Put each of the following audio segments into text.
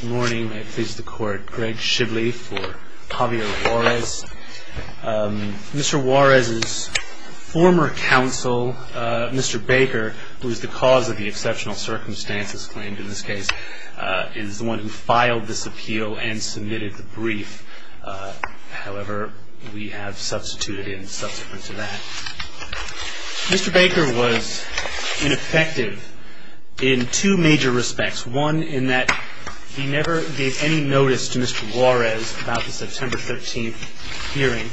Good morning. I please the court, Greg Shibley for Javier Juarez. Mr. Juarez's former counsel, Mr. Baker, who is the cause of the exceptional circumstances claimed in this case, is the one who filed this appeal and submitted the brief. However, we have substituted in subsequent to that. Mr. Baker was ineffective in two major respects. One, in that he never gave any notice to Mr. Juarez about the September 13th hearing.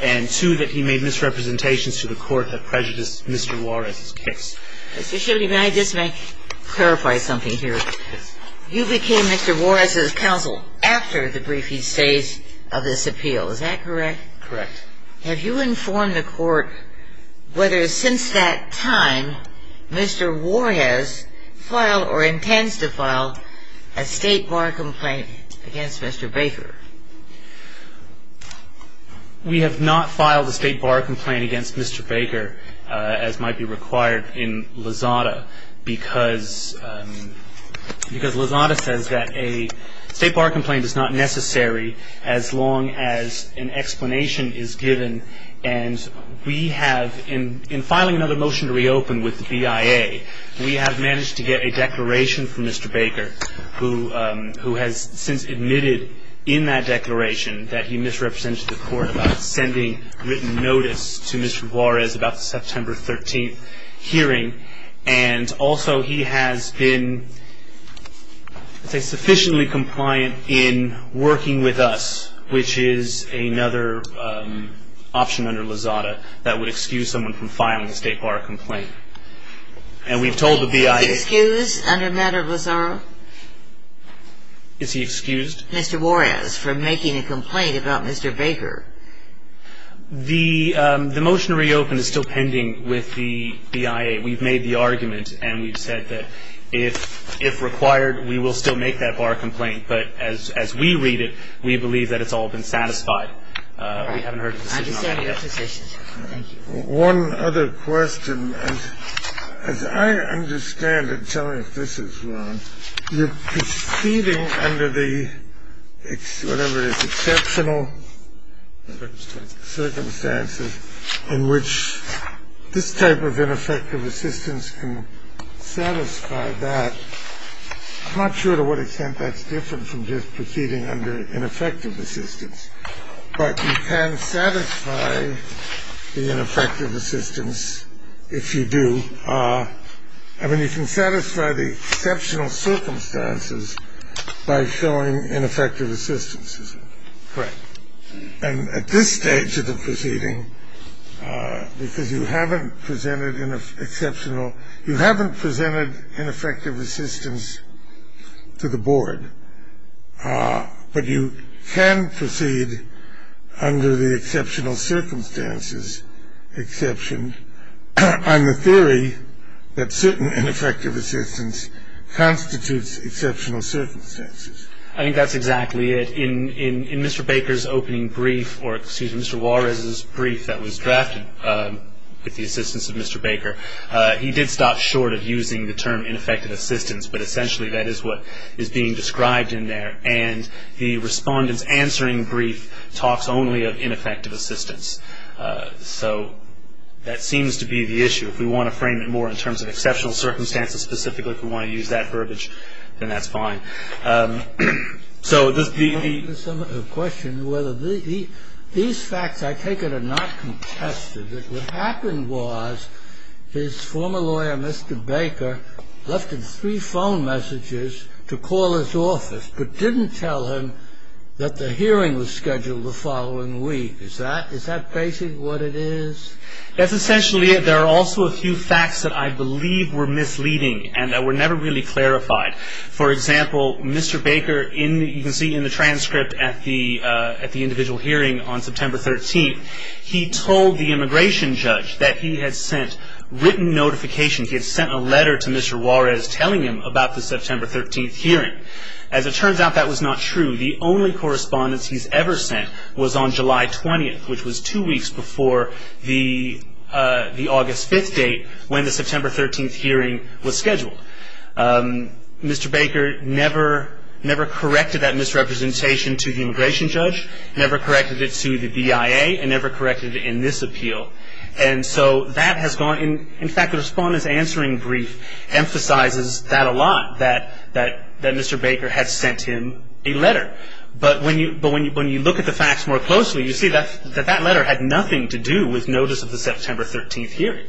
And two, that he made misrepresentations to the court that prejudiced Mr. Juarez's case. Mr. Shibley, may I just clarify something here? Yes. You became Mr. Juarez's counsel after the brief he stays of this appeal. Is that correct? Correct. Have you informed the court whether since that time Mr. Juarez filed or intends to file a state bar complaint against Mr. Baker? We have not filed a state bar complaint against Mr. Baker, as might be required in Lozada, because Lozada says that a state bar complaint is not necessary as long as an explanation is given. And we have, in filing another motion to reopen with the BIA, we have managed to get a declaration from Mr. Baker, who has since admitted in that declaration that he misrepresented to the court about sending written notice to Mr. Juarez about the September 13th hearing. And also, he has been, let's say, sufficiently compliant in working with us, which is another option under Lozada that would excuse someone from filing a state bar complaint. And we've told the BIA... Is he excused under matter of Lozada? Is he excused? Mr. Juarez, for making a complaint about Mr. Baker. The motion to reopen is still pending with the BIA. We've made the argument, and we've said that if required, we will still make that bar complaint. But as we read it, we believe that it's all been satisfied. We haven't heard a decision on that yet. I understand your position. Thank you. One other question. As I understand it, tell me if this is wrong, you're proceeding under the, whatever it is, exceptional circumstances in which this type of ineffective assistance can satisfy that. I'm not sure to what extent that's different from just proceeding under ineffective assistance. But you can satisfy the ineffective assistance if you do. I mean, you can satisfy the exceptional circumstances by showing ineffective assistance, is it? Correct. And at this stage of the proceeding, because you haven't presented exceptional, you haven't presented ineffective assistance to the board, but you can proceed under the exceptional circumstances exception on the theory that certain ineffective assistance constitutes exceptional circumstances. I think that's exactly it. In Mr. Baker's opening brief, or excuse me, Mr. Juarez's brief that was drafted with the assistance of Mr. Baker, he did stop short of using the term ineffective assistance, but essentially that is what is being described in there. And the respondent's answering brief talks only of ineffective assistance. So that seems to be the issue. If we want to frame it more in terms of exceptional circumstances, specifically if we want to use that verbiage, then that's fine. I have a question. These facts, I take it, are not contested. What happened was his former lawyer, Mr. Baker, left him three phone messages to call his office, but didn't tell him that the hearing was scheduled the following week. Is that basic what it is? That's essentially it. There are also a few facts that I believe were misleading and that were never really clarified. For example, Mr. Baker, you can see in the transcript at the individual hearing on September 13th, he told the immigration judge that he had sent written notifications, he had sent a letter to Mr. Juarez telling him about the September 13th hearing. As it turns out, that was not true. The only correspondence he's ever sent was on July 20th, which was two weeks before the August 5th date when the September 13th hearing was scheduled. Mr. Baker never corrected that misrepresentation to the immigration judge, never corrected it to the BIA, and never corrected it in this appeal. And so that has gone in. In fact, the respondent's answering brief emphasizes that a lot, that Mr. Baker had sent him a letter. But when you look at the facts more closely, you see that that letter had nothing to do with notice of the September 13th hearing.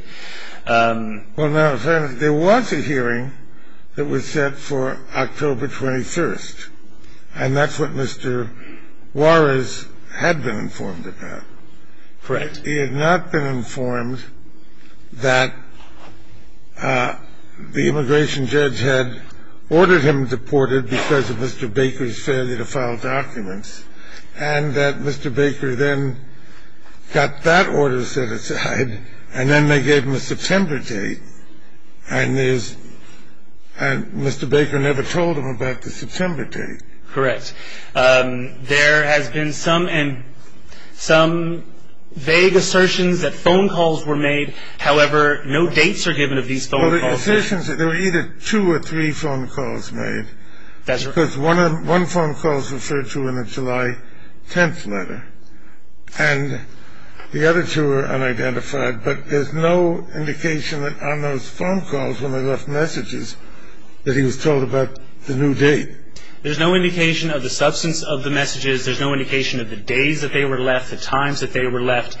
Well, now, there was a hearing that was set for October 21st, and that's what Mr. Juarez had been informed about. Correct. He had not been informed that the immigration judge had ordered him deported because of Mr. Baker's failure to file documents, and that Mr. Baker then got that order set aside, and then they gave him a September date, and Mr. Baker never told him about the September date. Correct. There has been some vague assertions that phone calls were made. However, no dates are given of these phone calls. Well, the assertions that there were either two or three phone calls made, because one phone call is referred to in the July 10th letter, and the other two are unidentified, but there's no indication on those phone calls when they left messages that he was told about the new date. There's no indication of the substance of the messages. There's no indication of the days that they were left, the times that they were left,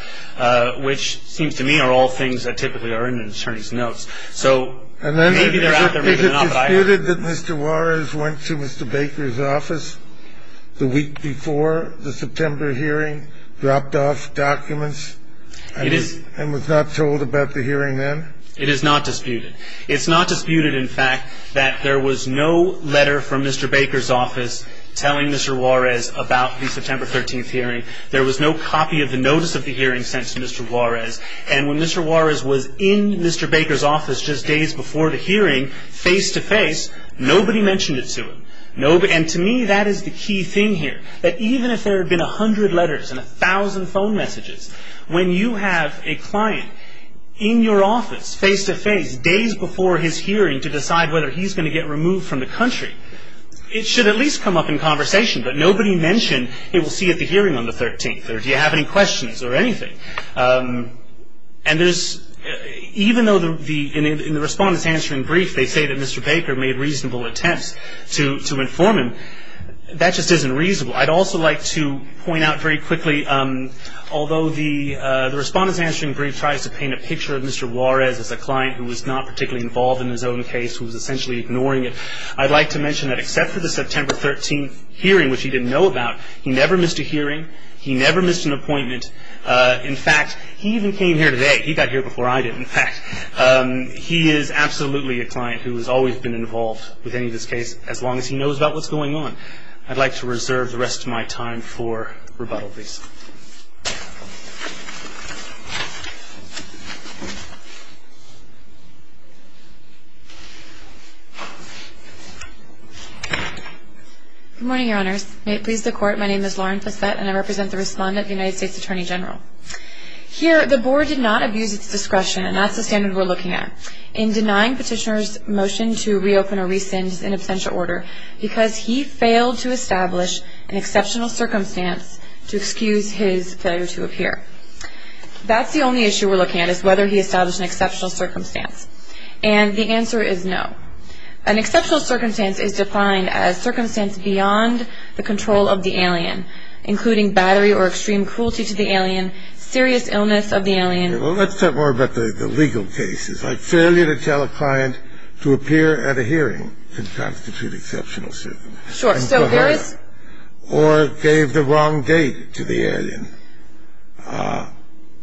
which seems to me are all things that typically are in an attorney's notes. So maybe they're out there, maybe they're not. Is it disputed that Mr. Juarez went to Mr. Baker's office the week before the September hearing, dropped off documents, and was not told about the hearing then? It is not disputed. It's not disputed, in fact, that there was no letter from Mr. Baker's office telling Mr. Juarez about the September 13th hearing. There was no copy of the notice of the hearing sent to Mr. Juarez, and when Mr. Juarez was in Mr. Baker's office just days before the hearing, face-to-face, nobody mentioned it to him. And to me, that is the key thing here, that even if there had been 100 letters and 1,000 phone messages, when you have a client in your office, face-to-face, days before his hearing, to decide whether he's going to get removed from the country, it should at least come up in conversation, but nobody mentioned it will see at the hearing on the 13th, or do you have any questions, or anything. And even though in the Respondent's Answering Brief they say that Mr. Baker made reasonable attempts to inform him, that just isn't reasonable. I'd also like to point out very quickly, although the Respondent's Answering Brief tries to paint a picture of Mr. Juarez as a client who was not particularly involved in his own case, who was essentially ignoring it, I'd like to mention that except for the September 13th hearing, which he didn't know about, he never missed a hearing, he never missed an appointment. In fact, he even came here today. He got here before I did, in fact. He is absolutely a client who has always been involved with any of this case, as long as he knows about what's going on. I'd like to reserve the rest of my time for rebuttal, please. Good morning, Your Honors. May it please the Court, my name is Lauren Fassette, and I represent the Respondent of the United States Attorney General. Here, the Board did not abuse its discretion, and that's the standard we're looking at, in denying Petitioner's motion to reopen or rescind his inabstential order, because he failed to establish an exceptional circumstance to excuse his failure to appear. That's the only issue we're looking at, is whether he established an exceptional circumstance. And the answer is no. An exceptional circumstance is defined as circumstance beyond the control of the alien, including battery or extreme cruelty to the alien, serious illness of the alien. Well, let's talk more about the legal cases, like failure to tell a client to appear at a hearing can constitute exceptional circumstances. Sure. Or gave the wrong date to the alien.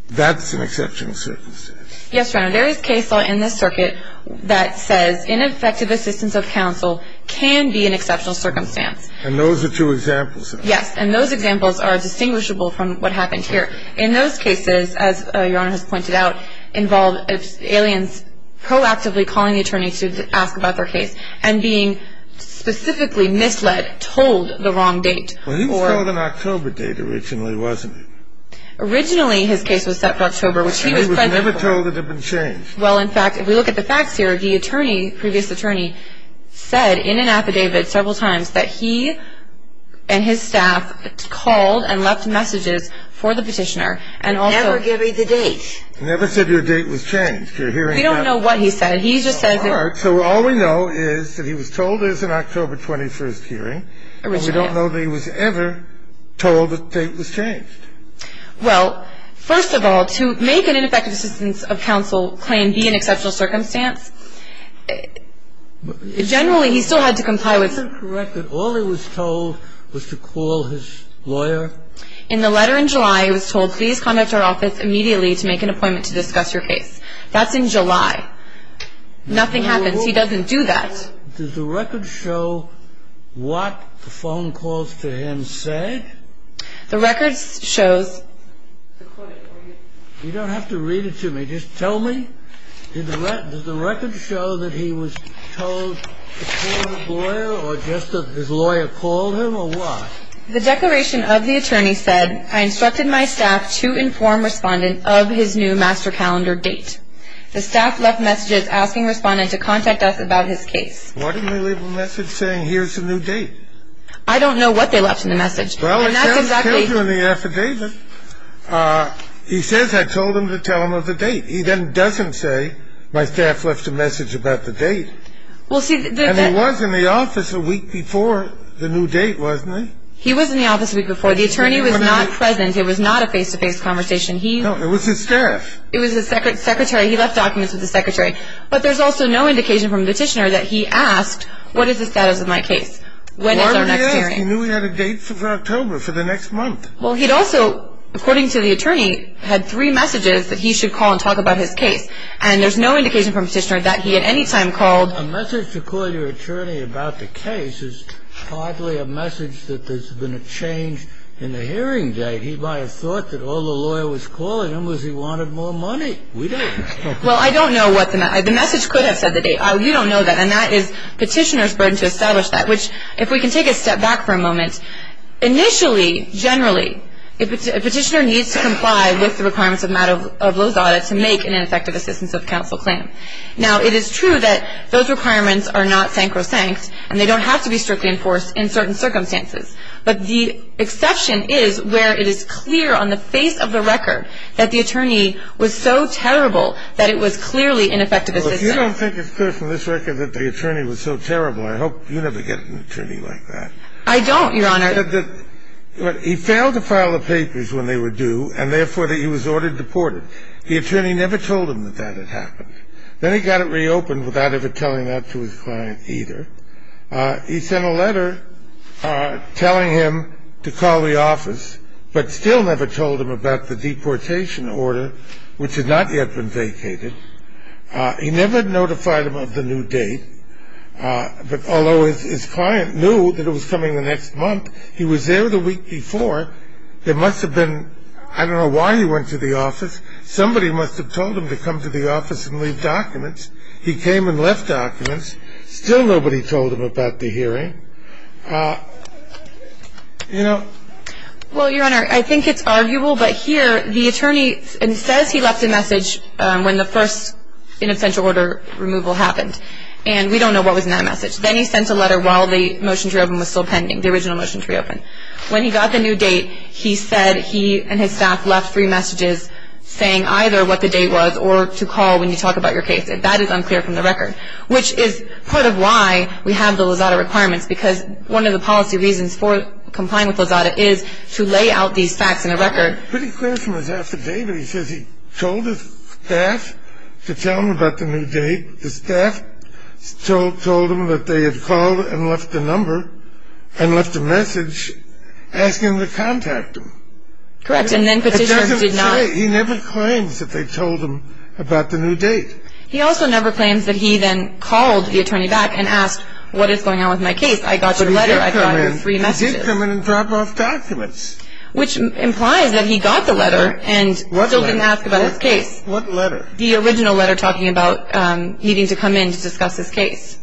That's an exceptional circumstance. Yes, Your Honor. There is case law in this circuit that says ineffective assistance of counsel can be an exceptional circumstance. And those are two examples. Yes. And those examples are distinguishable from what happened here. In those cases, as Your Honor has pointed out, involve aliens proactively calling the attorney to ask about their case, and being specifically misled, told the wrong date. Well, he was told an October date originally, wasn't he? Originally, his case was set for October, which he was present for. He was never told it had been changed. Well, in fact, if we look at the facts here, the attorney, previous attorney, said in an affidavit several times that he and his staff called and left messages for the petitioner. Never gave me the date. Never said your date was changed. We don't know what he said. He just said that. All right. So all we know is that he was told it was an October 21st hearing. Originally, yes. And we don't know that he was ever told the date was changed. Well, first of all, to make an ineffective assistance of counsel claim be an exceptional circumstance, generally he still had to comply with the law. Is it correct that all he was told was to call his lawyer? In the letter in July, he was told, please contact our office immediately to make an appointment to discuss your case. That's in July. Nothing happens. He doesn't do that. Does the record show what the phone calls to him said? The record shows. You don't have to read it to me. Just tell me. Does the record show that he was told to call his lawyer or just that his lawyer called him or what? The declaration of the attorney said, I instructed my staff to inform respondent of his new master calendar date. The staff left messages asking respondent to contact us about his case. Why didn't they leave a message saying here's the new date? I don't know what they left in the message. Well, it tells you in the affidavit. He says I told him to tell him of the date. He then doesn't say my staff left a message about the date. And he was in the office a week before the new date, wasn't he? He was in the office a week before. The attorney was not present. It was not a face-to-face conversation. No, it was his staff. It was his secretary. He left documents with the secretary. But there's also no indication from the petitioner that he asked, what is the status of my case? When is our next hearing? Why didn't he ask? He knew he had a date for October, for the next month. Well, he'd also, according to the attorney, had three messages that he should call and talk about his case. And there's no indication from the petitioner that he at any time called. A message to call your attorney about the case is hardly a message that there's been a change in the hearing date. He might have thought that all the lawyer was calling him was he wanted more money. We don't. Well, I don't know what the message. The message could have said the date. You don't know that. And that is petitioner's burden to establish that. Which, if we can take a step back for a moment, initially, generally, a petitioner needs to comply with the requirements of those audits to make an ineffective assistance of counsel claim. Now, it is true that those requirements are not sancro-sanct, and they don't have to be strictly enforced in certain circumstances. But the exception is where it is clear on the face of the record that the attorney was so terrible that it was clearly ineffective assistance. Well, if you don't think it's clear from this record that the attorney was so terrible, I hope you never get an attorney like that. I don't, Your Honor. He failed to file the papers when they were due, and therefore, he was ordered deported. The attorney never told him that that had happened. Then he got it reopened without ever telling that to his client either. He sent a letter telling him to call the office, but still never told him about the deportation order, which had not yet been vacated. He never notified him of the new date. But although his client knew that it was coming the next month, he was there the week before. There must have been ‑‑ I don't know why he went to the office. Somebody must have told him to come to the office and leave documents. He came and left documents. Still nobody told him about the hearing. You know? Well, Your Honor, I think it's arguable, but here the attorney says he left a message when the first inofficial order removal happened. And we don't know what was in that message. Then he sent a letter while the motion to reopen was still pending, the original motion to reopen. When he got the new date, he said he and his staff left three messages saying either what the date was or to call when you talk about your case. That is unclear from the record, which is part of why we have the Lozada requirements, because one of the policy reasons for complying with Lozada is to lay out these facts in a record. Pretty clear from his affidavit, he says he told his staff to tell him about the new date. The staff told him that they had called and left the number and left a message asking to contact him. Correct. And then Petitioner did not. He never claims that they told him about the new date. He also never claims that he then called the attorney back and asked what is going on with my case. I got your letter. I got your three messages. But he did come in and drop off documents. Which implies that he got the letter and still didn't ask about his case. What letter? The original letter talking about needing to come in to discuss his case.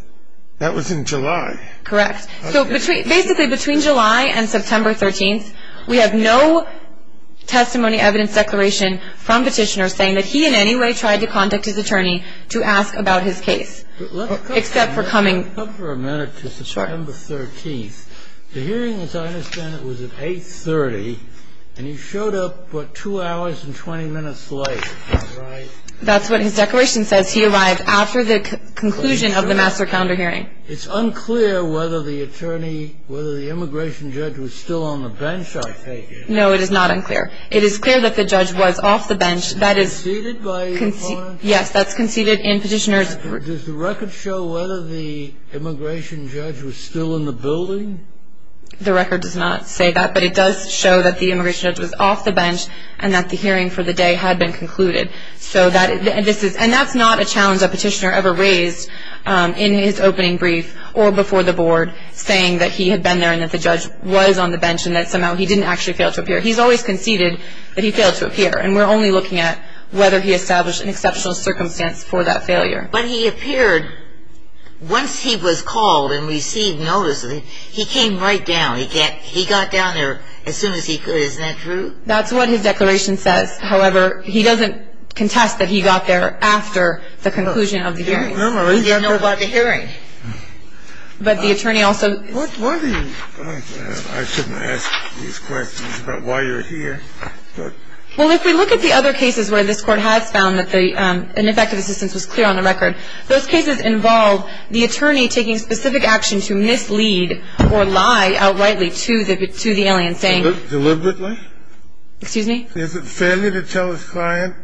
That was in July. Correct. So basically between July and September 13th, we have no testimony evidence declaration from Petitioner saying that he in any way tried to contact his attorney to ask about his case except for coming. Let's go for a minute to September 13th. Sure. The hearing, as I understand it, was at 830, and you showed up, what, two hours and 20 minutes late. That's right. That's what his declaration says. He arrived after the conclusion of the master calendar hearing. It's unclear whether the attorney, whether the immigration judge was still on the bench, I take it. No, it is not unclear. It is clear that the judge was off the bench. Is that conceded by your opponent? Yes, that's conceded in Petitioner's. Does the record show whether the immigration judge was still in the building? The record does not say that, but it does show that the immigration judge was off the bench and that the hearing for the day had been concluded. And that's not a challenge that Petitioner ever raised in his opening brief or before the board saying that he had been there and that the judge was on the bench and that somehow he didn't actually fail to appear. He's always conceded that he failed to appear, and we're only looking at whether he established an exceptional circumstance for that failure. But he appeared, once he was called and received notices, he came right down. He got down there as soon as he could. Isn't that true? That's what his declaration says. However, he doesn't contest that he got there after the conclusion of the hearing. He didn't know about the hearing. But the attorney also ---- Why do you ---- I shouldn't ask these questions about why you're here, but ---- Well, if we look at the other cases where this Court has found that the ineffective assistance was clear on the record, those cases involve the attorney taking specific action to mislead or lie outrightly to the alien, saying ---- Deliberately? Excuse me? Is it failure to tell his client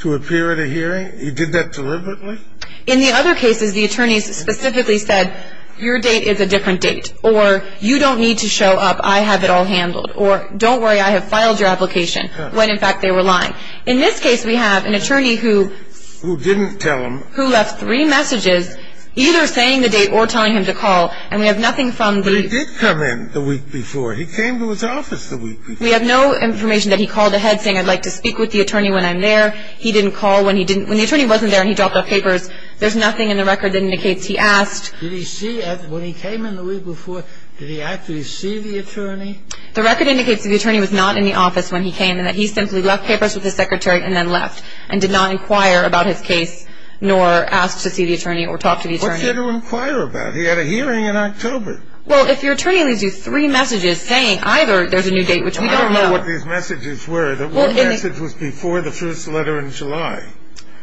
to appear at a hearing? He did that deliberately? In the other cases, the attorneys specifically said, your date is a different date, or you don't need to show up, I have it all handled, or don't worry, I have filed your application, when in fact they were lying. In this case, we have an attorney who ---- Who didn't tell him. Who left three messages either saying the date or telling him to call. And we have nothing from the ---- But he did come in the week before. He came to his office the week before. We have no information that he called ahead saying, I'd like to speak with the attorney when I'm there. He didn't call when he didn't ---- When the attorney wasn't there and he dropped off papers, there's nothing in the record that indicates he asked. Did he see, when he came in the week before, did he actually see the attorney? The record indicates that the attorney was not in the office when he came and that he simply left papers with his secretary and then left and did not inquire about his case nor ask to see the attorney or talk to the attorney. What did he inquire about? He had a hearing in October. Well, if your attorney leaves you three messages saying either there's a new date, which we don't know ---- I don't know what these messages were. What message was before the first letter in July?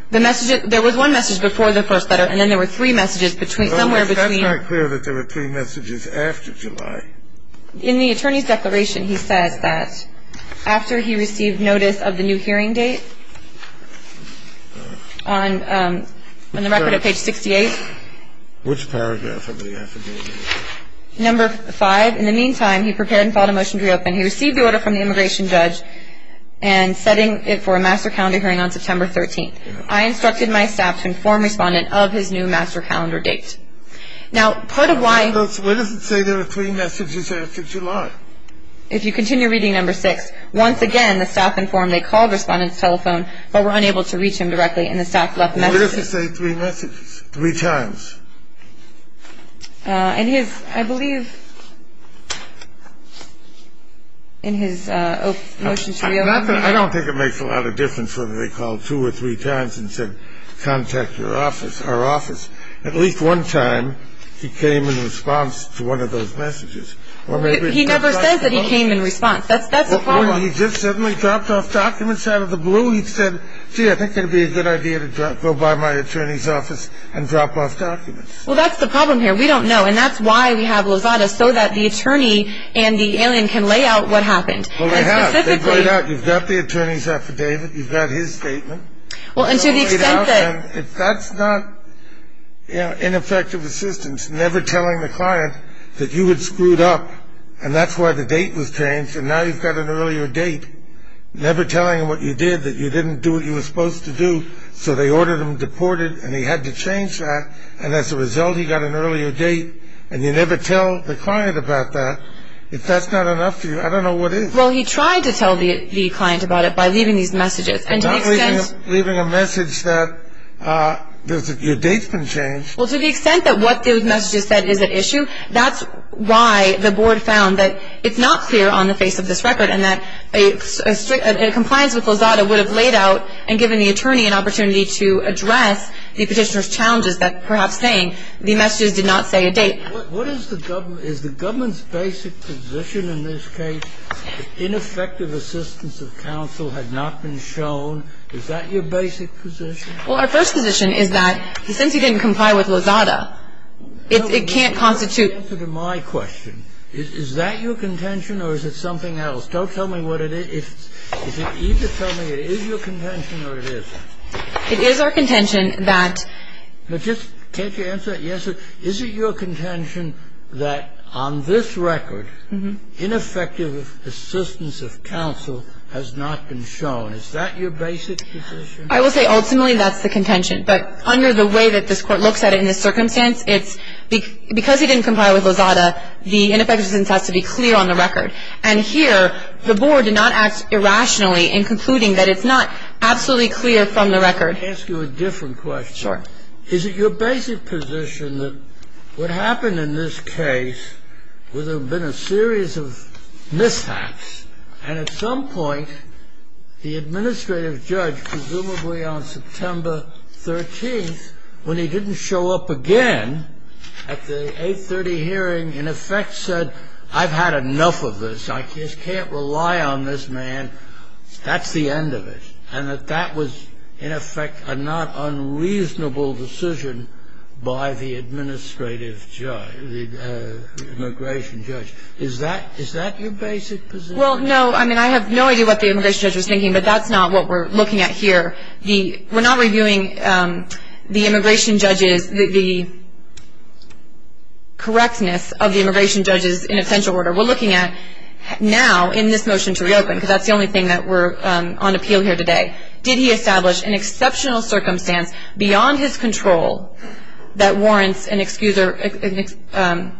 There was one message before the first letter, and then there were three messages somewhere between ---- That's not clear that there were three messages after July. In the attorney's declaration, he says that after he received notice of the new hearing date, on the record at page 68 ---- Which paragraph of the affidavit? Number 5, in the meantime, he prepared and filed a motion to reopen. He received the order from the immigration judge and setting it for a master calendar hearing on September 13th. I instructed my staff to inform respondent of his new master calendar date. Now, part of why ---- Why does it say there were three messages after July? If you continue reading number 6, once again, the staff informed they called respondent's telephone, but were unable to reach him directly, and the staff left a message. Why does it say three messages? Three times. In his, I believe, in his motion to reopen ---- I don't think it makes a lot of difference whether they called two or three times and said contact your office, our office. At least one time, he came in response to one of those messages. He never says that he came in response. That's the problem. Well, he just suddenly dropped off documents out of the blue. He said, gee, I think it would be a good idea to go by my attorney's office and drop off documents. Well, that's the problem here. We don't know, and that's why we have Lozada, so that the attorney and the alien can lay out what happened. Well, they have. They've laid out. You've got the attorney's affidavit. You've got his statement. Well, and to the extent that ---- That's not ineffective assistance, never telling the client that you had screwed up, and that's why the date was changed, and now you've got an earlier date, never telling him what you did, that you didn't do what you were supposed to do, so they ordered him deported, and he had to change that, and as a result, he got an earlier date, and you never tell the client about that. If that's not enough for you, I don't know what is. Well, he tried to tell the client about it by leaving these messages, and to the extent ---- And not leaving a message that your date's been changed. Well, to the extent that what those messages said is at issue, that's why the board found that it's not clear on the face of this record and that a compliance with Lozada would have laid out and given the attorney an opportunity to address the petitioner's challenges that perhaps saying the messages did not say a date. What is the government ---- Is the government's basic position in this case that ineffective assistance of counsel had not been shown? Is that your basic position? Well, our first position is that since he didn't comply with Lozada, it can't constitute ---- Answer to my question. Is that your contention or is it something else? Don't tell me what it is. Is it easy to tell me it is your contention or it isn't? It is our contention that ---- Can't you answer it? Yes, sir. Is it your contention that on this record, ineffective assistance of counsel has not been shown? Is that your basic position? I will say ultimately that's the contention, but under the way that this Court looks at it in this circumstance, it's because he didn't comply with Lozada, the ineffective assistance has to be clear on the record. And here the Board did not act irrationally in concluding that it's not absolutely clear from the record. Can I ask you a different question? Sure. Is it your basic position that what happened in this case would have been a series of mishaps and at some point the administrative judge, presumably on September 13th, when he didn't show up again at the 830 hearing, in effect said I've had enough of this. I just can't rely on this man. That's the end of it. And that that was, in effect, a not unreasonable decision by the administrative judge, the immigration judge. Is that your basic position? Well, no, I mean I have no idea what the immigration judge was thinking, but that's not what we're looking at here. We're not reviewing the immigration judge's, the correctness of the immigration judge's inessential order. We're looking at now in this motion to reopen, because that's the only thing that we're on appeal here today, did he establish an exceptional circumstance beyond his control that warrants an exception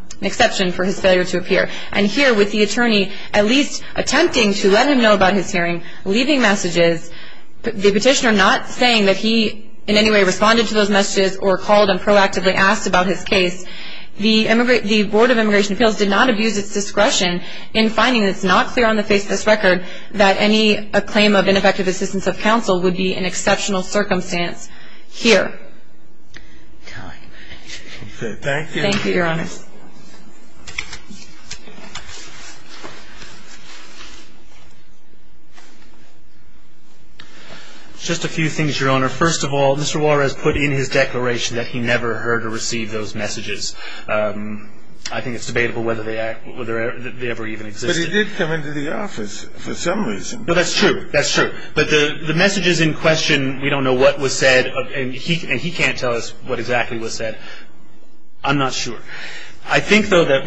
for his failure to appear. And here with the attorney at least attempting to let him know about his hearing, leaving messages, the petitioner not saying that he in any way responded to those messages or called and proactively asked about his case, the Board of Immigration Appeals did not abuse its discretion in finding that it's not clear on the face of this record that any claim of ineffective assistance of counsel would be an exceptional circumstance here. Okay. Thank you. Thank you, Your Honor. Just a few things, Your Honor. First of all, Mr. Juarez put in his declaration that he never heard or received those messages. I think it's debatable whether they ever even existed. But he did come into the office for some reason. No, that's true. That's true. But the messages in question, we don't know what was said and he can't tell us what exactly was said. I'm not sure. I think, though, that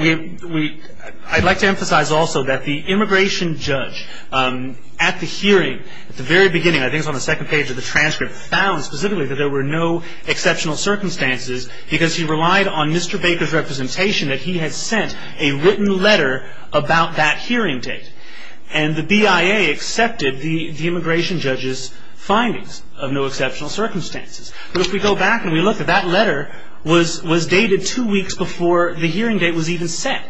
I'd like to emphasize also that the immigration judge at the hearing, at the very beginning, I think it's on the second page of the transcript, found specifically that there were no exceptional circumstances because he relied on Mr. Baker's representation that he had sent a written letter about that hearing date. And the BIA accepted the immigration judge's findings of no exceptional circumstances. But if we go back and we look at that letter, it was dated two weeks before the hearing date was even set.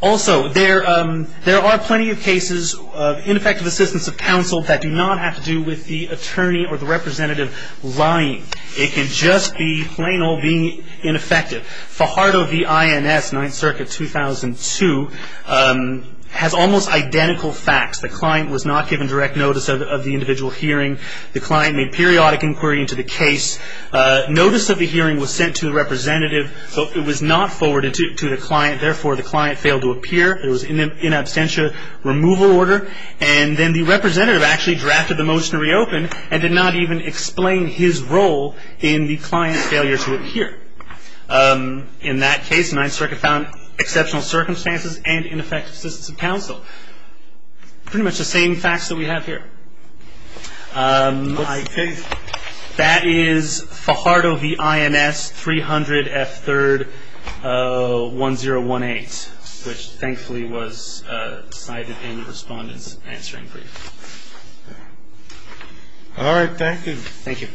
Also, there are plenty of cases of ineffective assistance of counsel that do not have to do with the attorney or the representative lying. It can just be plain old being ineffective. Fajardo v. INS, 9th Circuit, 2002, has almost identical facts. The client was not given direct notice of the individual hearing. The client made periodic inquiry into the case. Notice of the hearing was sent to the representative, but it was not forwarded to the client. Therefore, the client failed to appear. It was in absentia removal order. And then the representative actually drafted the motion to reopen and did not even explain his role in the client's failure to appear. Pretty much the same facts that we have here. That is Fajardo v. INS, 300 F. 3rd, 1018, which thankfully was cited in the respondent's answering brief. All right. Thank you. Thank you.